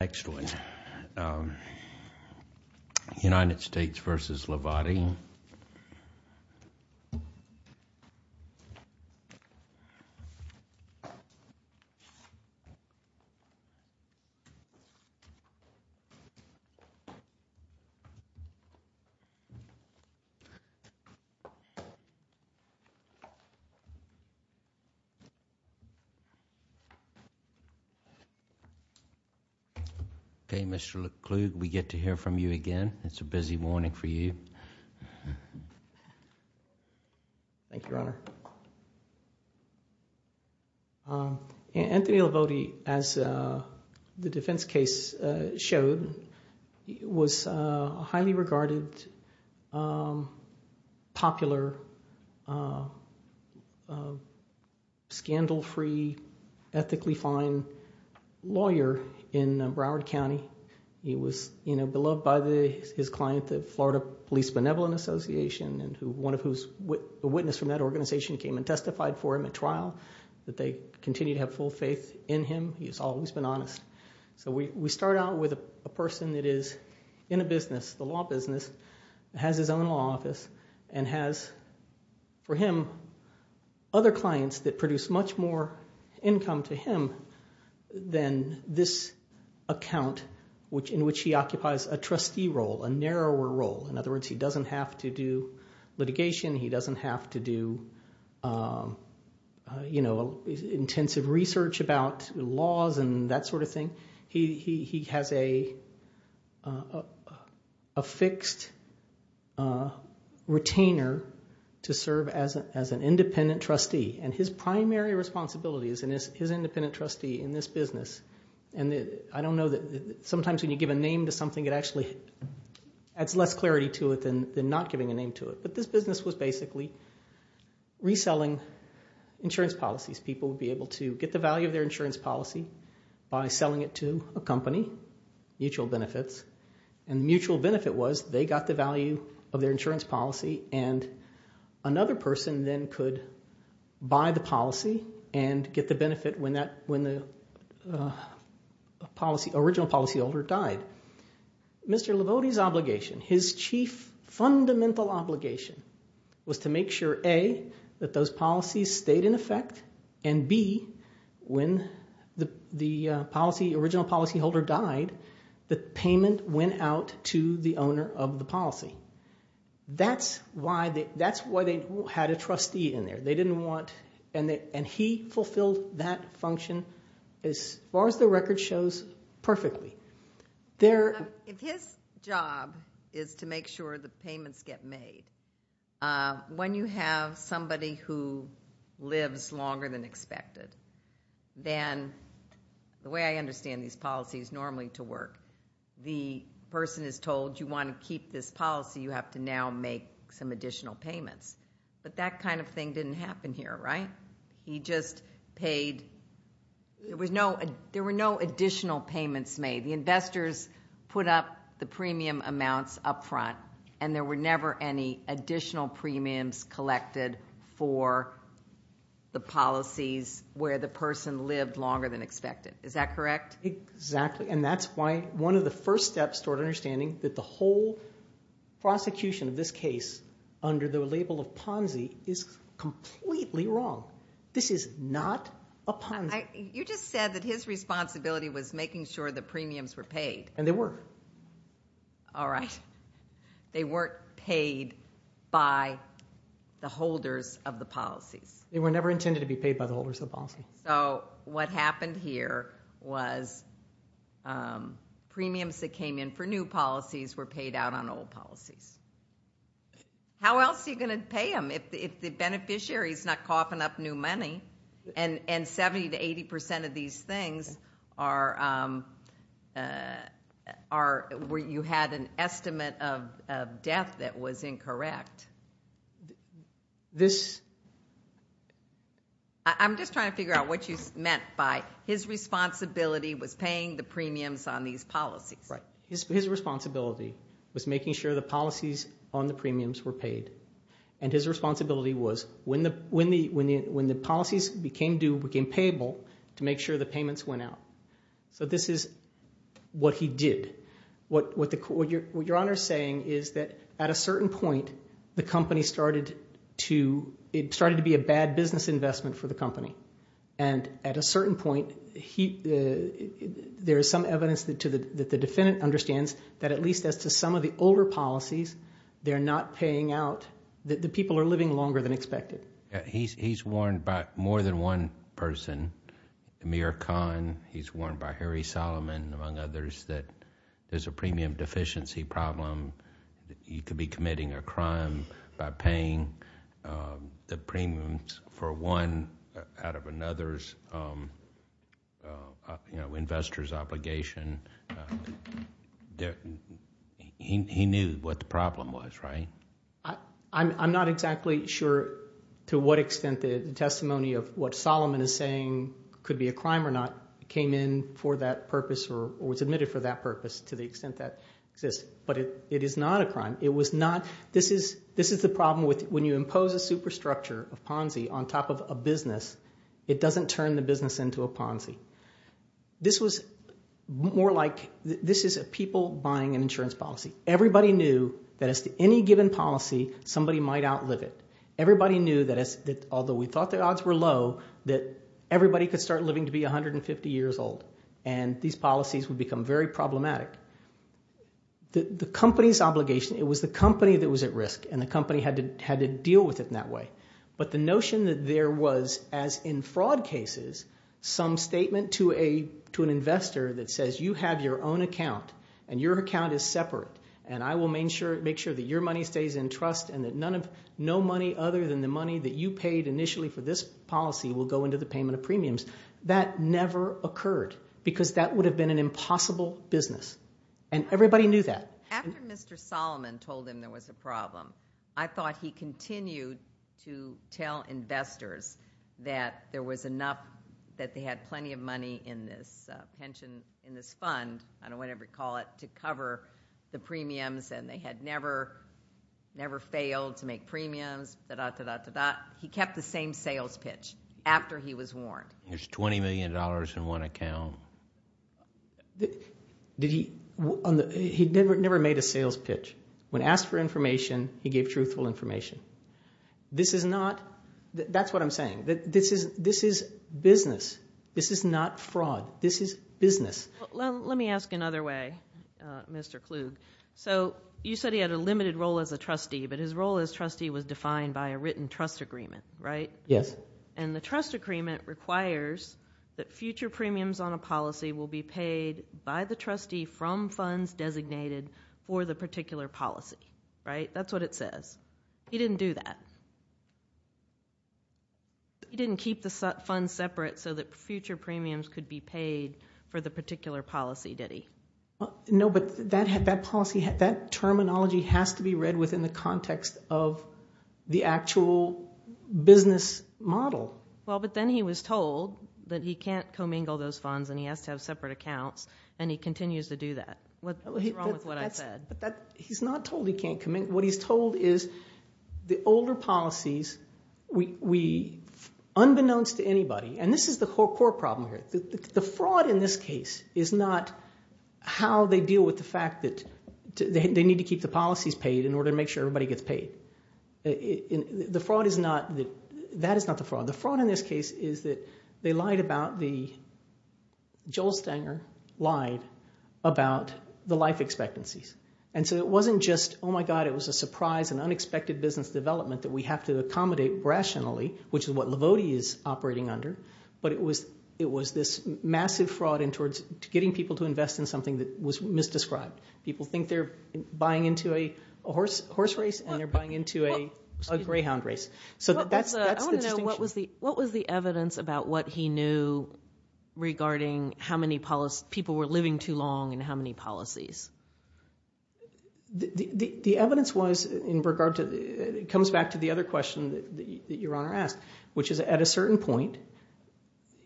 Next one, United States v. Livoti. Okay, Mr. Lecluge, we get to hear from you again. It's a busy morning for you. Thank you, Your Honor. Anthony Livoti, as the defense case showed, was a highly regarded, popular, scandal-free, ethically fine lawyer in Broward County. He was beloved by his client, the Florida Police Benevolent Association, one of whose, a witness from that organization came and testified for him at trial, that they continue to have full faith in him. He's always been honest. So we start out with a person that is in a business, the law business, has his own law office, and has, for him, other clients that produce much more income to him than this account in which he occupies a trustee role, a narrower role. In other words, he doesn't have to do litigation, he doesn't have to do intensive research about laws and that sort of thing. He has a fixed, retainer to serve as an independent trustee. And his primary responsibility as his independent trustee in this business, and I don't know that, sometimes when you give a name to something, it actually adds less clarity to it than not giving a name to it. But this business was basically reselling insurance policies. People would be able to get the value of their insurance policy by selling it to a company, Mutual Benefits. And Mutual Benefit was, they got the value of their insurance policy, and another person then could buy the policy and get the benefit when the original policyholder died. Mr. Livodi's obligation, his chief fundamental obligation, was to make sure, A, that those policies stayed in effect, and B, when the original policyholder died, the payment went out to the owner of the policy. That's why they had a trustee in there. They didn't want, and he fulfilled that function as far as the record shows, perfectly. If his job is to make sure the payments get made, when you have somebody who lives longer than expected, then the way I understand these policies, when you have somebody who lives longer than expected, and you have to pay the person who pays normally to work, the person is told, you want to keep this policy, you have to now make some additional payments. But that kind of thing didn't happen here, right? He just paid, there were no additional payments made. The investors put up the premium amounts up front, and there were never any additional premiums collected for the policies where the person lived longer than expected, is that correct? Exactly, and that's why one of the first steps toward understanding that the whole prosecution of this case, under the label of Ponzi, is completely wrong. This is not a Ponzi. You just said that his responsibility was making sure the premiums were paid. And they were. All right. They weren't paid by the holders of the policies. They were never intended to be paid by the holders of the policies. So what happened here was, premiums that came in for new policies were paid out on old policies. How else are you gonna pay them if the beneficiary's not coughing up new money? And 70 to 80% of these things are, where you had an estimate of death that was incorrect. I'm just trying to figure out what you meant by, his responsibility was paying the premiums on these policies. His responsibility was making sure the policies on the premiums were paid. And his responsibility was, when the policies became due, became payable, to make sure the payments went out. So this is what he did. What Your Honor's saying is that, at a certain point, the company started to, it started to be a bad business investment for the company. And at a certain point, there is some evidence that the defendant understands that at least as to some of the older policies, they're not paying out, that the people are living longer than expected. He's warned by more than one person, Amir Khan, he's warned by Harry Solomon, among others, that there's a premium deficiency problem, that he could be committing a crime by paying the premiums for one out of another's, investor's obligation. He knew what the problem was, right? I'm not exactly sure to what extent the testimony of what Solomon is saying could be a crime or not, came in for that purpose, or was admitted for that purpose, to the extent that exists. But it is not a crime. It was not, this is the problem with, when you impose a superstructure of Ponzi on top of a business, it doesn't turn the business into a Ponzi. This was more like, this is a people buying an insurance policy. Everybody knew that as to any given policy, somebody might outlive it. Everybody knew that, although we thought the odds were low, that everybody could start living to be 150 years old, and these policies would become very problematic. The company's obligation, it was the company that was at risk, and the company had to deal with it in that way. But the notion that there was, as in fraud cases, some statement to an investor that says, you have your own account, and your account is separate, and I will make sure that your money stays in trust, and that no money other than the money that you paid initially for this policy will go into the payment of premiums, that never occurred, because that would have been an impossible business. And everybody knew that. After Mr. Solomon told him there was a problem, I thought he continued to tell investors that there was enough, that they had plenty of money in this pension, in this fund, I don't know whatever you call it, to cover the premiums, and they had never failed to make premiums, da-da-da-da-da-da. He kept the same sales pitch after he was warned. There's $20 million in one account. He never made a sales pitch. When asked for information, he gave truthful information. This is not, that's what I'm saying, this is business. This is not fraud, this is business. Let me ask another way, Mr. Klug. So you said he had a limited role as a trustee, but his role as trustee was defined by a written trust agreement, right? Yes. And the trust agreement requires that future premiums on a policy will be paid by the trustee from funds designated for the particular policy, right? That's what it says. He didn't do that. He didn't keep the funds separate so that future premiums could be paid for the particular policy, did he? No, but that policy, that terminology has to be read within the context of the actual business model. Well, but then he was told that he can't commingle those funds and he has to have separate accounts, and he continues to do that. What's wrong with what I said? He's not told he can't commingle. What he's told is the older policies, we, unbeknownst to anybody, and this is the core problem here. The fraud in this case is not how they deal with the fact that they need to keep the policies paid in order to make sure everybody gets paid. The fraud is not, that is not the fraud. The fraud in this case is that they lied about the, Joel Stanger lied about the life expectancies. And so it wasn't just, oh my God, it was a surprise and unexpected business development that we have to accommodate rationally, which is what Lavodi is operating under, but it was this massive fraud in towards getting people to invest in something that was misdescribed. People think they're buying into a horse race and they're buying into a greyhound race. So that's the distinction. What was the evidence about what he knew regarding how many people were living too long and how many policies? The evidence was in regard to, it comes back to the other question that your Honor asked, which is at a certain point,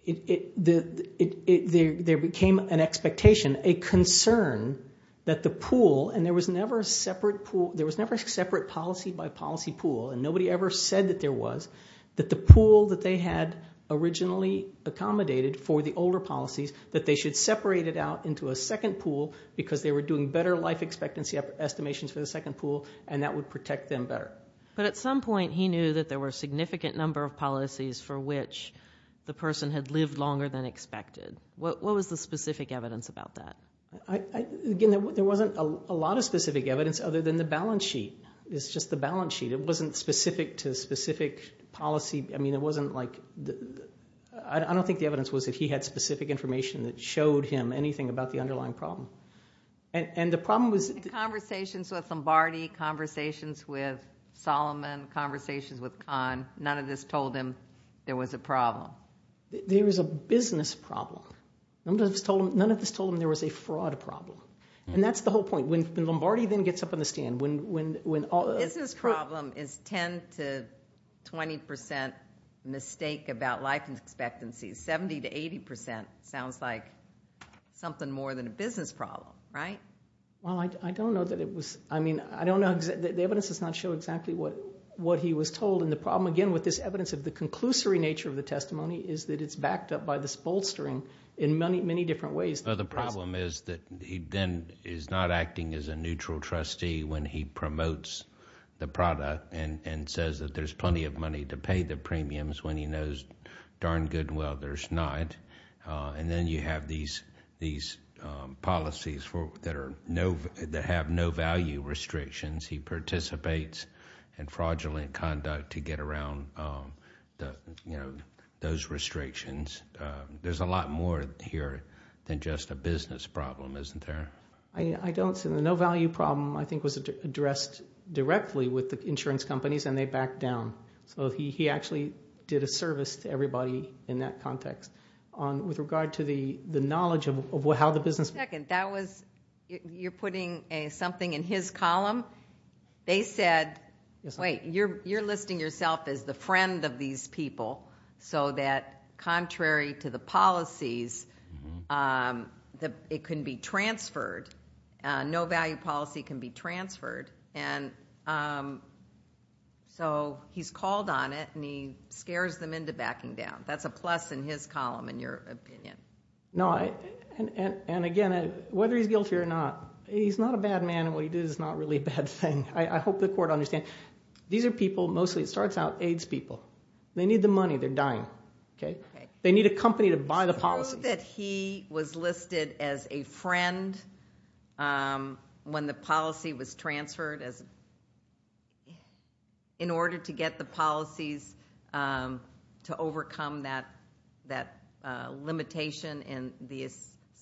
there became an expectation, a concern that the pool, and there was never a separate pool, there was never a separate policy by policy pool, and nobody ever said that there was, that the pool that they had originally accommodated for the older policies, that they should separate it out into a second pool because they were doing better life expectancy estimations for the second pool and that would protect them better. But at some point, he knew that there were a significant number of policies for which the person had lived longer than expected. What was the specific evidence about that? Again, there wasn't a lot of specific evidence other than the balance sheet. It's just the balance sheet. It wasn't specific to specific policy. I mean, it wasn't like, I don't think the evidence was that he had specific information that showed him anything about the underlying problem. And the problem was- Conversations with Lombardi, conversations with Solomon, conversations with Khan, none of this told him there was a problem. There was a business problem. None of this told him there was a fraud problem. And that's the whole point. When Lombardi then gets up on the stand, when- Business problem is 10 to 20% mistake about life expectancy. 70 to 80% sounds like something more than a business problem, right? Well, I don't know that it was, I mean, I don't know, the evidence does not show exactly what he was told. And the problem, again, with this evidence of the conclusory nature of the testimony is that it's backed up by this bolstering in many different ways. The problem is that he then is not acting as a neutral trustee when he promotes the product and says that there's plenty of money to pay the premiums when he knows darn good well there's not. And then you have these policies that have no value restrictions. He participates in fraudulent conduct to get around those restrictions. There's a lot more here than just a business problem, isn't there? I don't see, the no value problem, I think was addressed directly with the insurance companies and they backed down. So he actually did a service to everybody in that context. With regard to the knowledge of how the business. Second, that was, you're putting something in his column. They said, wait, you're listing yourself as the friend of these people so that contrary to the policies, it can be transferred. No value policy can be transferred. And so he's called on it and he scares them into backing down. That's a plus in his column, in your opinion. No, and again, whether he's guilty or not, he's not a bad man and what he did is not really a bad thing. I hope the court understands. These are people, mostly it starts out AIDS people. They need the money, they're dying. It's true that he was listed as a friend when the policy was transferred in order to get the policies to overcome that limitation and the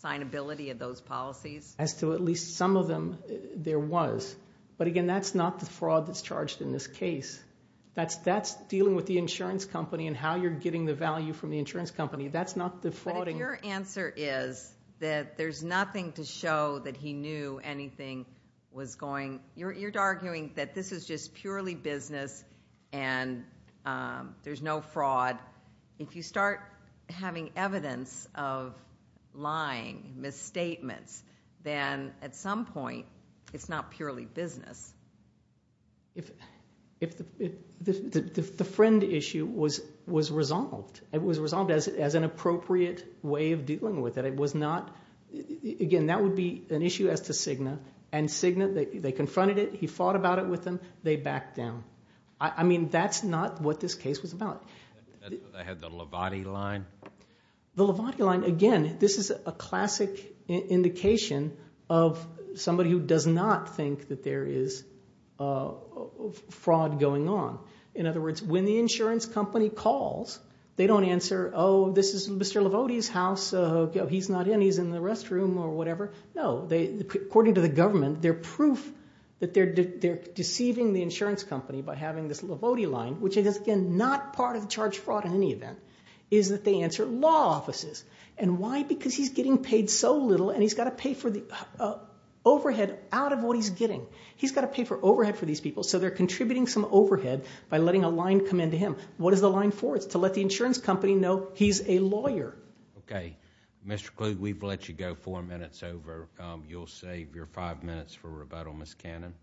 assignability of those policies. As to at least some of them, there was. But again, that's not the fraud that's charged in this case. That's dealing with the insurance company and how you're getting the value from the insurance company. That's not the frauding. But if your answer is that there's nothing to show that he knew anything was going, you're arguing that this is just purely business and there's no fraud. If you start having evidence of lying, misstatements, then at some point, it's not purely business. The friend issue was resolved. It was resolved as an appropriate way of dealing with it. It was not, again, that would be an issue as to Cigna. And Cigna, they confronted it, he fought about it with them, they backed down. I mean, that's not what this case was about. They had the Levati line. The Levati line, again, this is a classic indication of somebody who does not think that there is fraud going on. In other words, when the insurance company calls, they don't answer, oh, this is Mr. Levati's house. He's not in, he's in the restroom or whatever. No, according to the government, their proof that they're deceiving the insurance company by having this Levati line, which is, again, not part of the charge fraud in any event, is that they answer law offices. And why? Because he's getting paid so little and he's gotta pay for the overhead out of what he's getting. He's gotta pay for overhead for these people, so they're contributing some overhead by letting a line come into him. What is the line for? It's to let the insurance company know he's a lawyer. Okay, Mr. Kluge, we've let you go four minutes over. You'll save your five minutes for rebuttal, Ms. Cannon.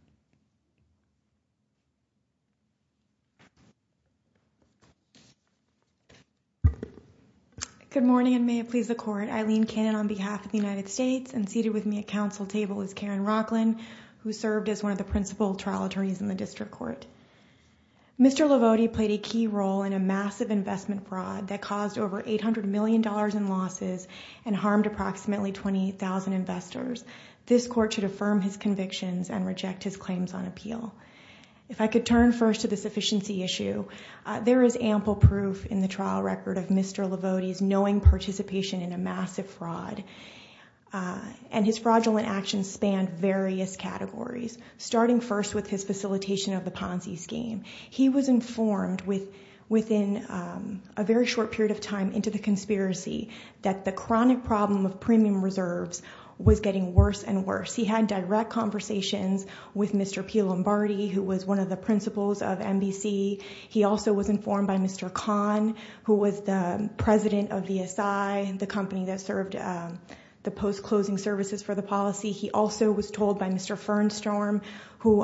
Good morning and may it please the court. Eileen Cannon on behalf of the United States and seated with me at council table is Karen Rocklin, who served as one of the principal trial attorneys in the district court. Mr. Levati played a key role in a massive investment fraud that caused over $800 million in losses and harmed approximately 20,000 investors. This court should affirm his convictions and reject his claims on appeal. If I could turn first to the sufficiency issue, there is ample proof in the trial record of Mr. Levati's knowing participation in a massive fraud. And his fraudulent actions spanned various categories, starting first with his facilitation of the Ponzi scheme. He was informed within a very short period of time into the conspiracy that the chronic problem of premium reserves was getting worse and worse. He had direct conversations with Mr. P. Lombardi, who was one of the principals of NBC. He also was informed by Mr. Kahn, who was the president of VSI, the company that served the post-closing services for the policy. He also was told by Mr. Fernstrom, who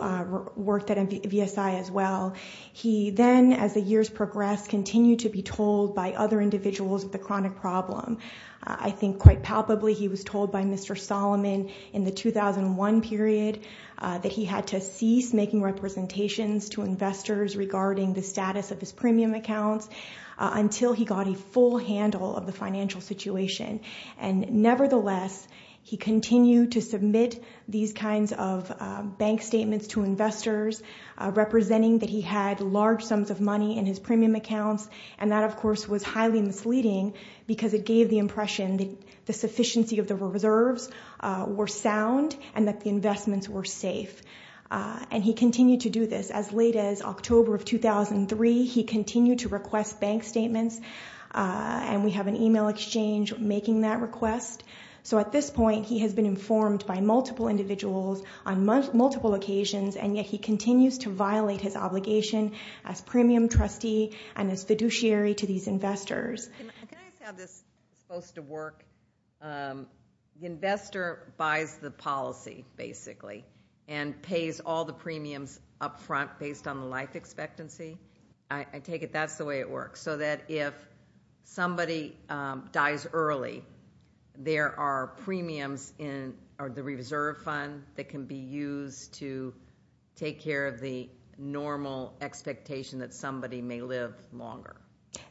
worked at VSI as well. He then, as the years progressed, continued to be told by other individuals of the chronic problem. I think quite palpably, he was told by Mr. Solomon in the 2001 period that he had to cease making representations to investors regarding the status of his premium accounts until he got a full handle of the financial situation. And nevertheless, he continued to submit these kinds of bank statements to investors, representing that he had large sums of money in his premium accounts. And that, of course, was highly misleading because it gave the impression that the sufficiency of the reserves were sound and that the investments were safe. And he continued to do this. As late as October of 2003, he continued to request bank statements. And we have an email exchange making that request. So at this point, he has been informed by multiple individuals on multiple occasions, and yet he continues to violate his obligation as premium trustee and as fiduciary to these investors. Can I just have this post to work? The investor buys the policy, basically, and pays all the premiums upfront based on the life expectancy. I take it that's the way it works. So that if somebody dies early, there are premiums in the reserve fund that can be used to take care of the normal expectation that somebody may live longer.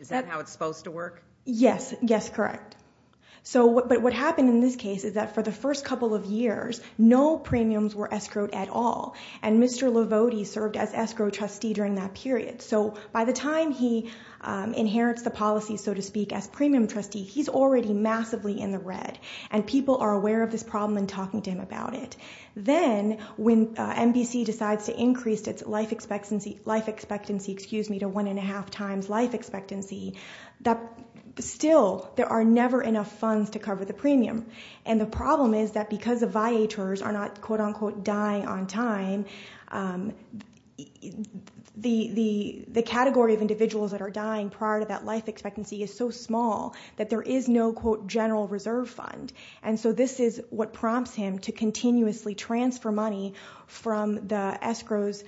Is that how it's supposed to work? Yes, yes, correct. So, but what happened in this case is that for the first couple of years, no premiums were escrowed at all. And Mr. Lavodi served as escrow trustee during that period. So by the time he inherits the policy, so to speak, as premium trustee, he's already massively in the red. And people are aware of this problem and talking to him about it. Then when MBC decides to increase its life expectancy, excuse me, to one and a half times life expectancy, that still, there are never enough funds to cover the premium. And the problem is that because the viators are not, quote unquote, dying on time, the category of individuals that are dying prior to that life expectancy is so small that there is no, quote, general reserve fund. And so this is what prompts him to continuously transfer money from the escrows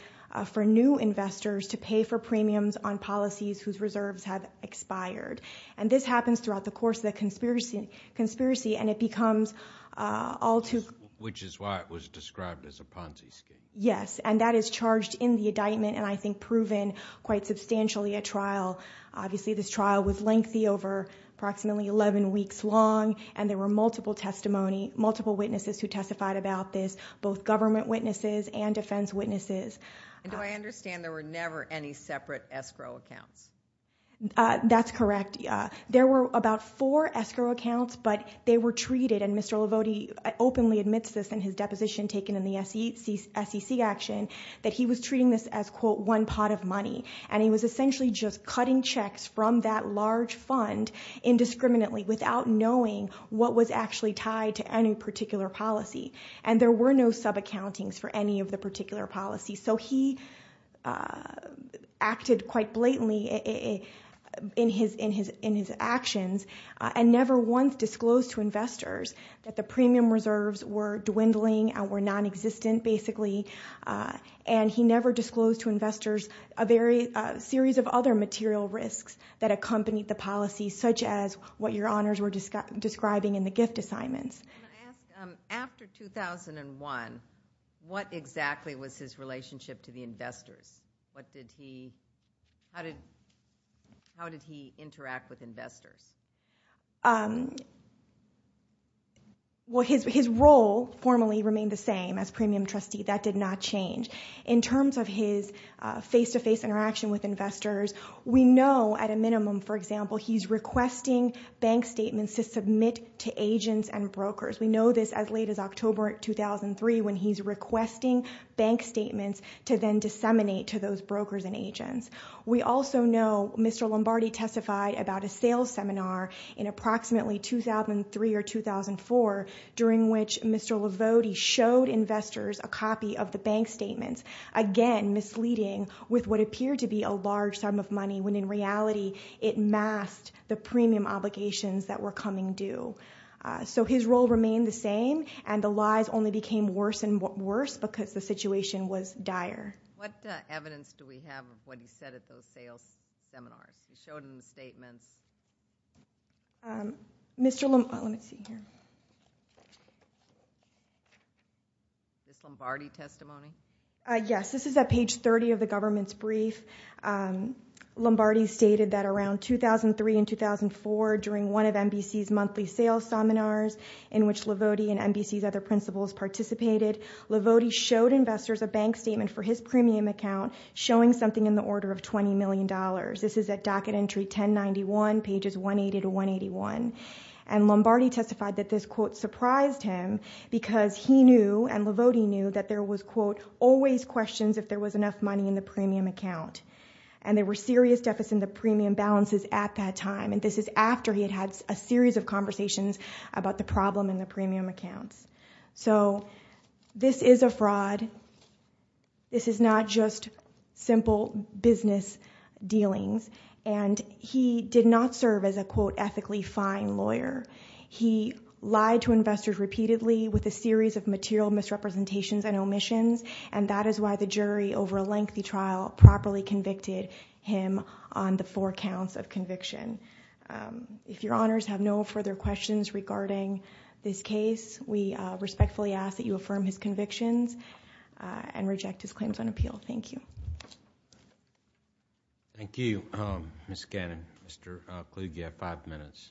for new investors to pay for premiums on policies whose reserves have expired. And this happens throughout the course of the conspiracy and it becomes all too. Which is why it was described as a Ponzi scheme. Yes, and that is charged in the indictment and I think proven quite substantially at trial. Obviously this trial was lengthy over approximately 11 weeks long and there were multiple testimony, multiple witnesses who testified about this, both government witnesses and defense witnesses. And do I understand there were never any separate escrow accounts? That's correct. There were about four escrow accounts, but they were treated, and Mr. Lavodi openly admits this in his deposition taken in the SEC action, that he was treating this as, quote, one pot of money. And he was essentially just cutting checks from that large fund indiscriminately without knowing what was actually tied to any particular policy. And there were no sub-accountings for any of the particular policies. So he acted quite blatantly in his actions and never once disclosed to investors that the premium reserves were dwindling, were non-existent basically, and he never disclosed to investors a series of other material risks that accompanied the policy, such as what your honors were describing in the gift assignments. I'm gonna ask, after 2001, what exactly was his relationship to the investors? What did he, how did he interact with investors? Well, his role formally remained the same as premium trustee, that did not change. In terms of his face-to-face interaction with investors, we know at a minimum, for example, he's requesting bank statements to submit to agents and brokers. We know this as late as October 2003 when he's requesting bank statements to then disseminate to those brokers and agents. We also know Mr. Lombardi testified about a sales seminar in approximately 2003 or 2004, during which Mr. Lombardi showed investors a copy of the bank statements. Again, misleading with what appeared to be a large sum of money, when in reality it masked the premium obligations that were coming due. So his role remained the same and the lies only became worse and worse because the situation was dire. What evidence do we have of what he said at those sales seminars? He showed in the statements. Mr. Lombardi, let me see here. This Lombardi testimony? Yes, this is at page 30 of the government's brief. Lombardi stated that around 2003 and 2004, during one of NBC's monthly sales seminars, in which Lavodi and NBC's other principals participated, Lavodi showed investors a bank statement for his premium account, showing something in the order of $20 million. This is at docket entry 1091, pages 180 to 181. And Lombardi testified that this, quote, surprised him because he knew, and Lavodi knew, that there was, quote, always questions if there was enough money in the premium account. And there were serious deficits in the premium balances at that time. And this is after he had had a series of conversations about the problem in the premium accounts. So this is a fraud. This is not just simple business dealings. And he did not serve as a, quote, ethically fine lawyer. He lied to investors repeatedly with a series of material misrepresentations and omissions. And that is why the jury, over a lengthy trial, properly convicted him on the four counts of conviction. If your honors have no further questions regarding this case, we respectfully ask that you affirm his convictions and reject his claims on appeal. Thank you. Thank you, Ms. Cannon. Mr. Kluge, you have five minutes.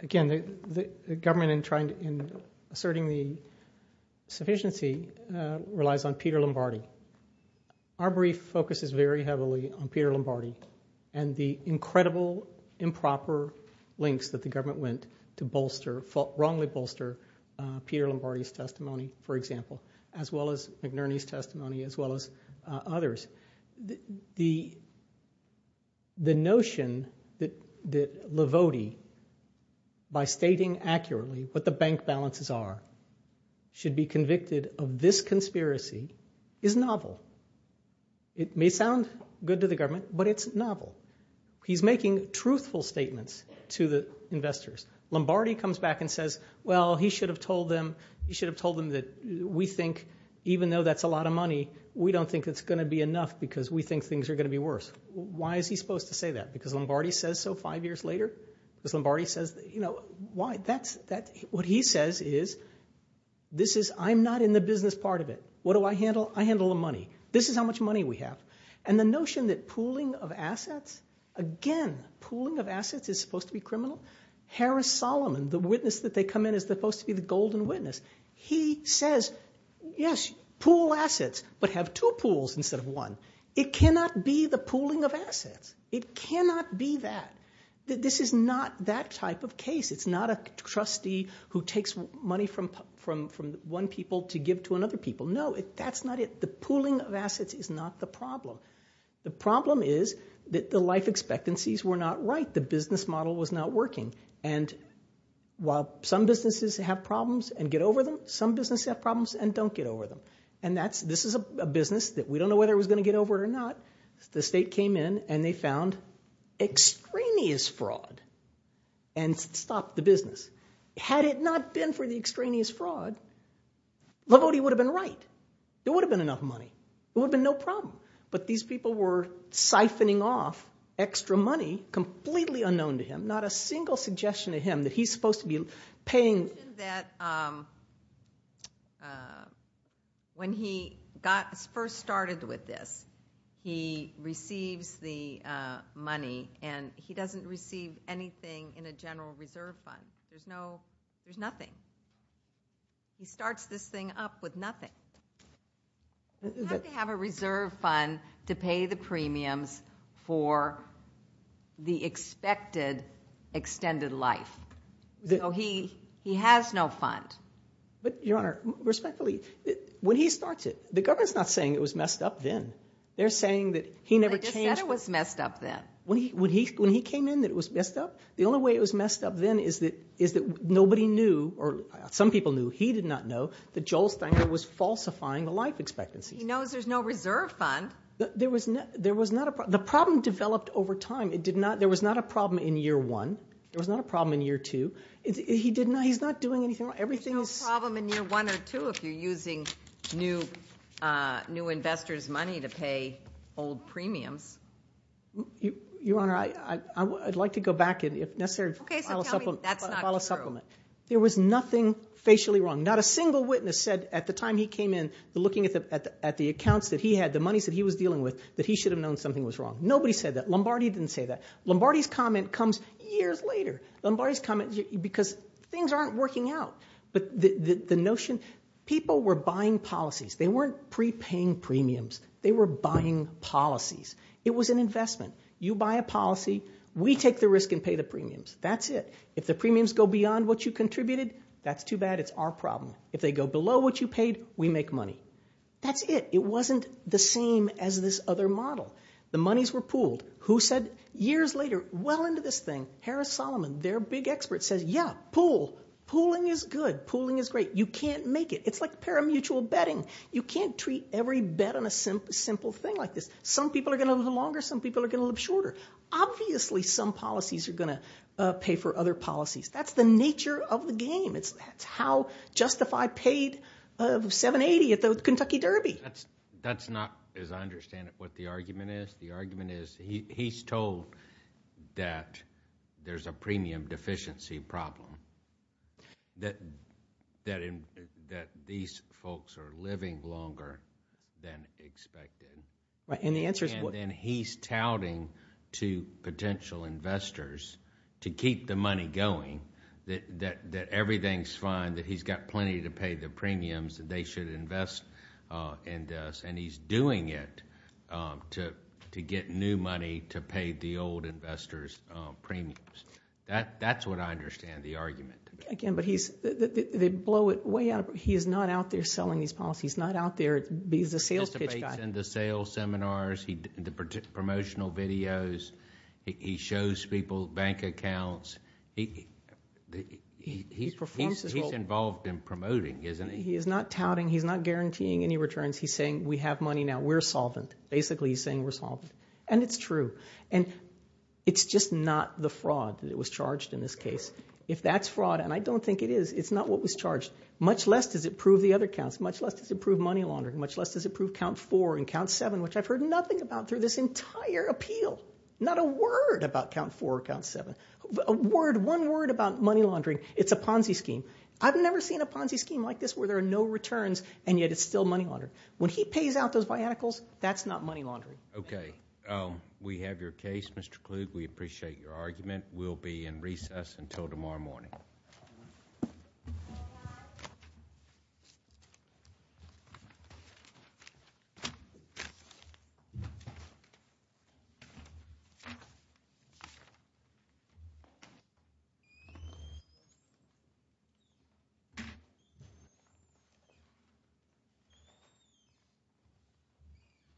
Again, the government, in asserting the sufficiency, relies on Peter Lombardi. Our brief focuses very heavily on Peter Lombardi and the incredible improper links that the government went to wrongly bolster Peter Lombardi's testimony, for example, as well as McNerney's testimony, as well as others. The notion that Lavodi, by stating accurately what the bank balances are, should be convicted of this conspiracy is novel. It may sound good to the government, but it's novel. He's making truthful statements to the investors. Lombardi comes back and says, well, he should have told them that we think, even though that's a lot of money, we don't think it's gonna be enough because we think things are gonna be worse. Why is he supposed to say that? Because Lombardi says so five years later? Because Lombardi says, you know, why? That's, what he says is, this is, I'm not in the business part of it. What do I handle? I handle the money. This is how much money we have. And the notion that pooling of assets, again, pooling of assets is supposed to be criminal. Harris Solomon, the witness that they come in is supposed to be the golden witness. He says, yes, pool assets, but have two pools instead of one. It cannot be the pooling of assets. It cannot be that. This is not that type of case. It's not a trustee who takes money from one people to give to another people. No, that's not it. The pooling of assets is not the problem. The problem is that the life expectancies were not right. The business model was not working. And while some businesses have problems and get over them, some businesses have problems and don't get over them. And that's, this is a business that we don't know whether it was gonna get over it or not. The state came in and they found extraneous fraud and stopped the business. Had it not been for the extraneous fraud, Lombardi would have been right. There would have been enough money. It would have been no problem. But these people were siphoning off extra money, completely unknown to him, not a single suggestion to him that he's supposed to be paying. That when he got first started with this, he receives the money and he doesn't receive anything in a general reserve fund. There's no, there's nothing. He starts this thing up with nothing. He has to have a reserve fund to pay the premiums for the expected extended life. So he has no fund. But Your Honor, respectfully, when he starts it, the government's not saying it was messed up then. They're saying that he never changed. They just said it was messed up then. When he came in that it was messed up, the only way it was messed up then is that nobody knew, or some people knew, he did not know that Joel Stenger was falsifying the life expectancy. He knows there's no reserve fund. There was not a problem. The problem developed over time. It did not, there was not a problem in year one. There was not a problem in year two. He did not, he's not doing anything wrong. Everything is- There's no problem in year one or two if you're using new investors' money to pay old premiums. Your Honor, I'd like to go back, and if necessary, file a supplement. Okay, so tell me that's not true. There was nothing facially wrong. Not a single witness said at the time he came in, looking at the accounts that he had, the monies that he was dealing with, that he should have known something was wrong. Nobody said that. Lombardi didn't say that. Lombardi's comment comes years later. Lombardi's comment, because things aren't working out. But the notion, people were buying policies. They weren't pre-paying premiums. They were buying policies. It was an investment. You buy a policy, we take the risk and pay the premiums. That's it. If the premiums go beyond what you contributed, that's too bad. It's our problem. If they go below what you paid, we make money. That's it. It wasn't the same as this other model. The monies were pooled. Who said, years later, well into this thing, Harris-Solomon, their big expert, says, yeah, pool. Pooling is good. Pooling is great. You can't make it. It's like paramutual betting. You can't treat every bet on a simple thing like this. Some people are gonna live longer. Some people are gonna live shorter. Obviously, some policies are gonna pay for other policies. That's the nature of the game. It's how Justify paid 780 at the Kentucky Derby. That's not, as I understand it, what the argument is. The argument is he's told that there's a premium deficiency problem. That these folks are living longer than expected. Right, and the answer is what? And then he's touting to potential investors to keep the money going, that everything's fine, that he's got plenty to pay the premiums, that they should invest in this, and he's doing it to get new money to pay the old investors' premiums. That's what I understand the argument. Again, but they blow it way out of, he is not out there selling these policies. He's not out there, he's a sales pitch guy. Participates in the sales seminars, the promotional videos. He shows people bank accounts. He's involved in promoting, isn't he? He is not touting, he's not guaranteeing any returns. He's saying we have money now, we're solvent. Basically, he's saying we're solvent. And it's true. And it's just not the fraud that was charged in this case. If that's fraud, and I don't think it is, it's not what was charged. Much less does it prove the other counts. Much less does it prove money laundering. Much less does it prove count four and count seven, which I've heard nothing about through this entire appeal. Not a word about count four or count seven. One word about money laundering, it's a Ponzi scheme. I've never seen a Ponzi scheme like this where there are no returns, and yet it's still money laundering. When he pays out those biannuals, that's not money laundering. Okay, we have your case, Mr. Klug. We appreciate your argument. We'll be in recess until tomorrow morning.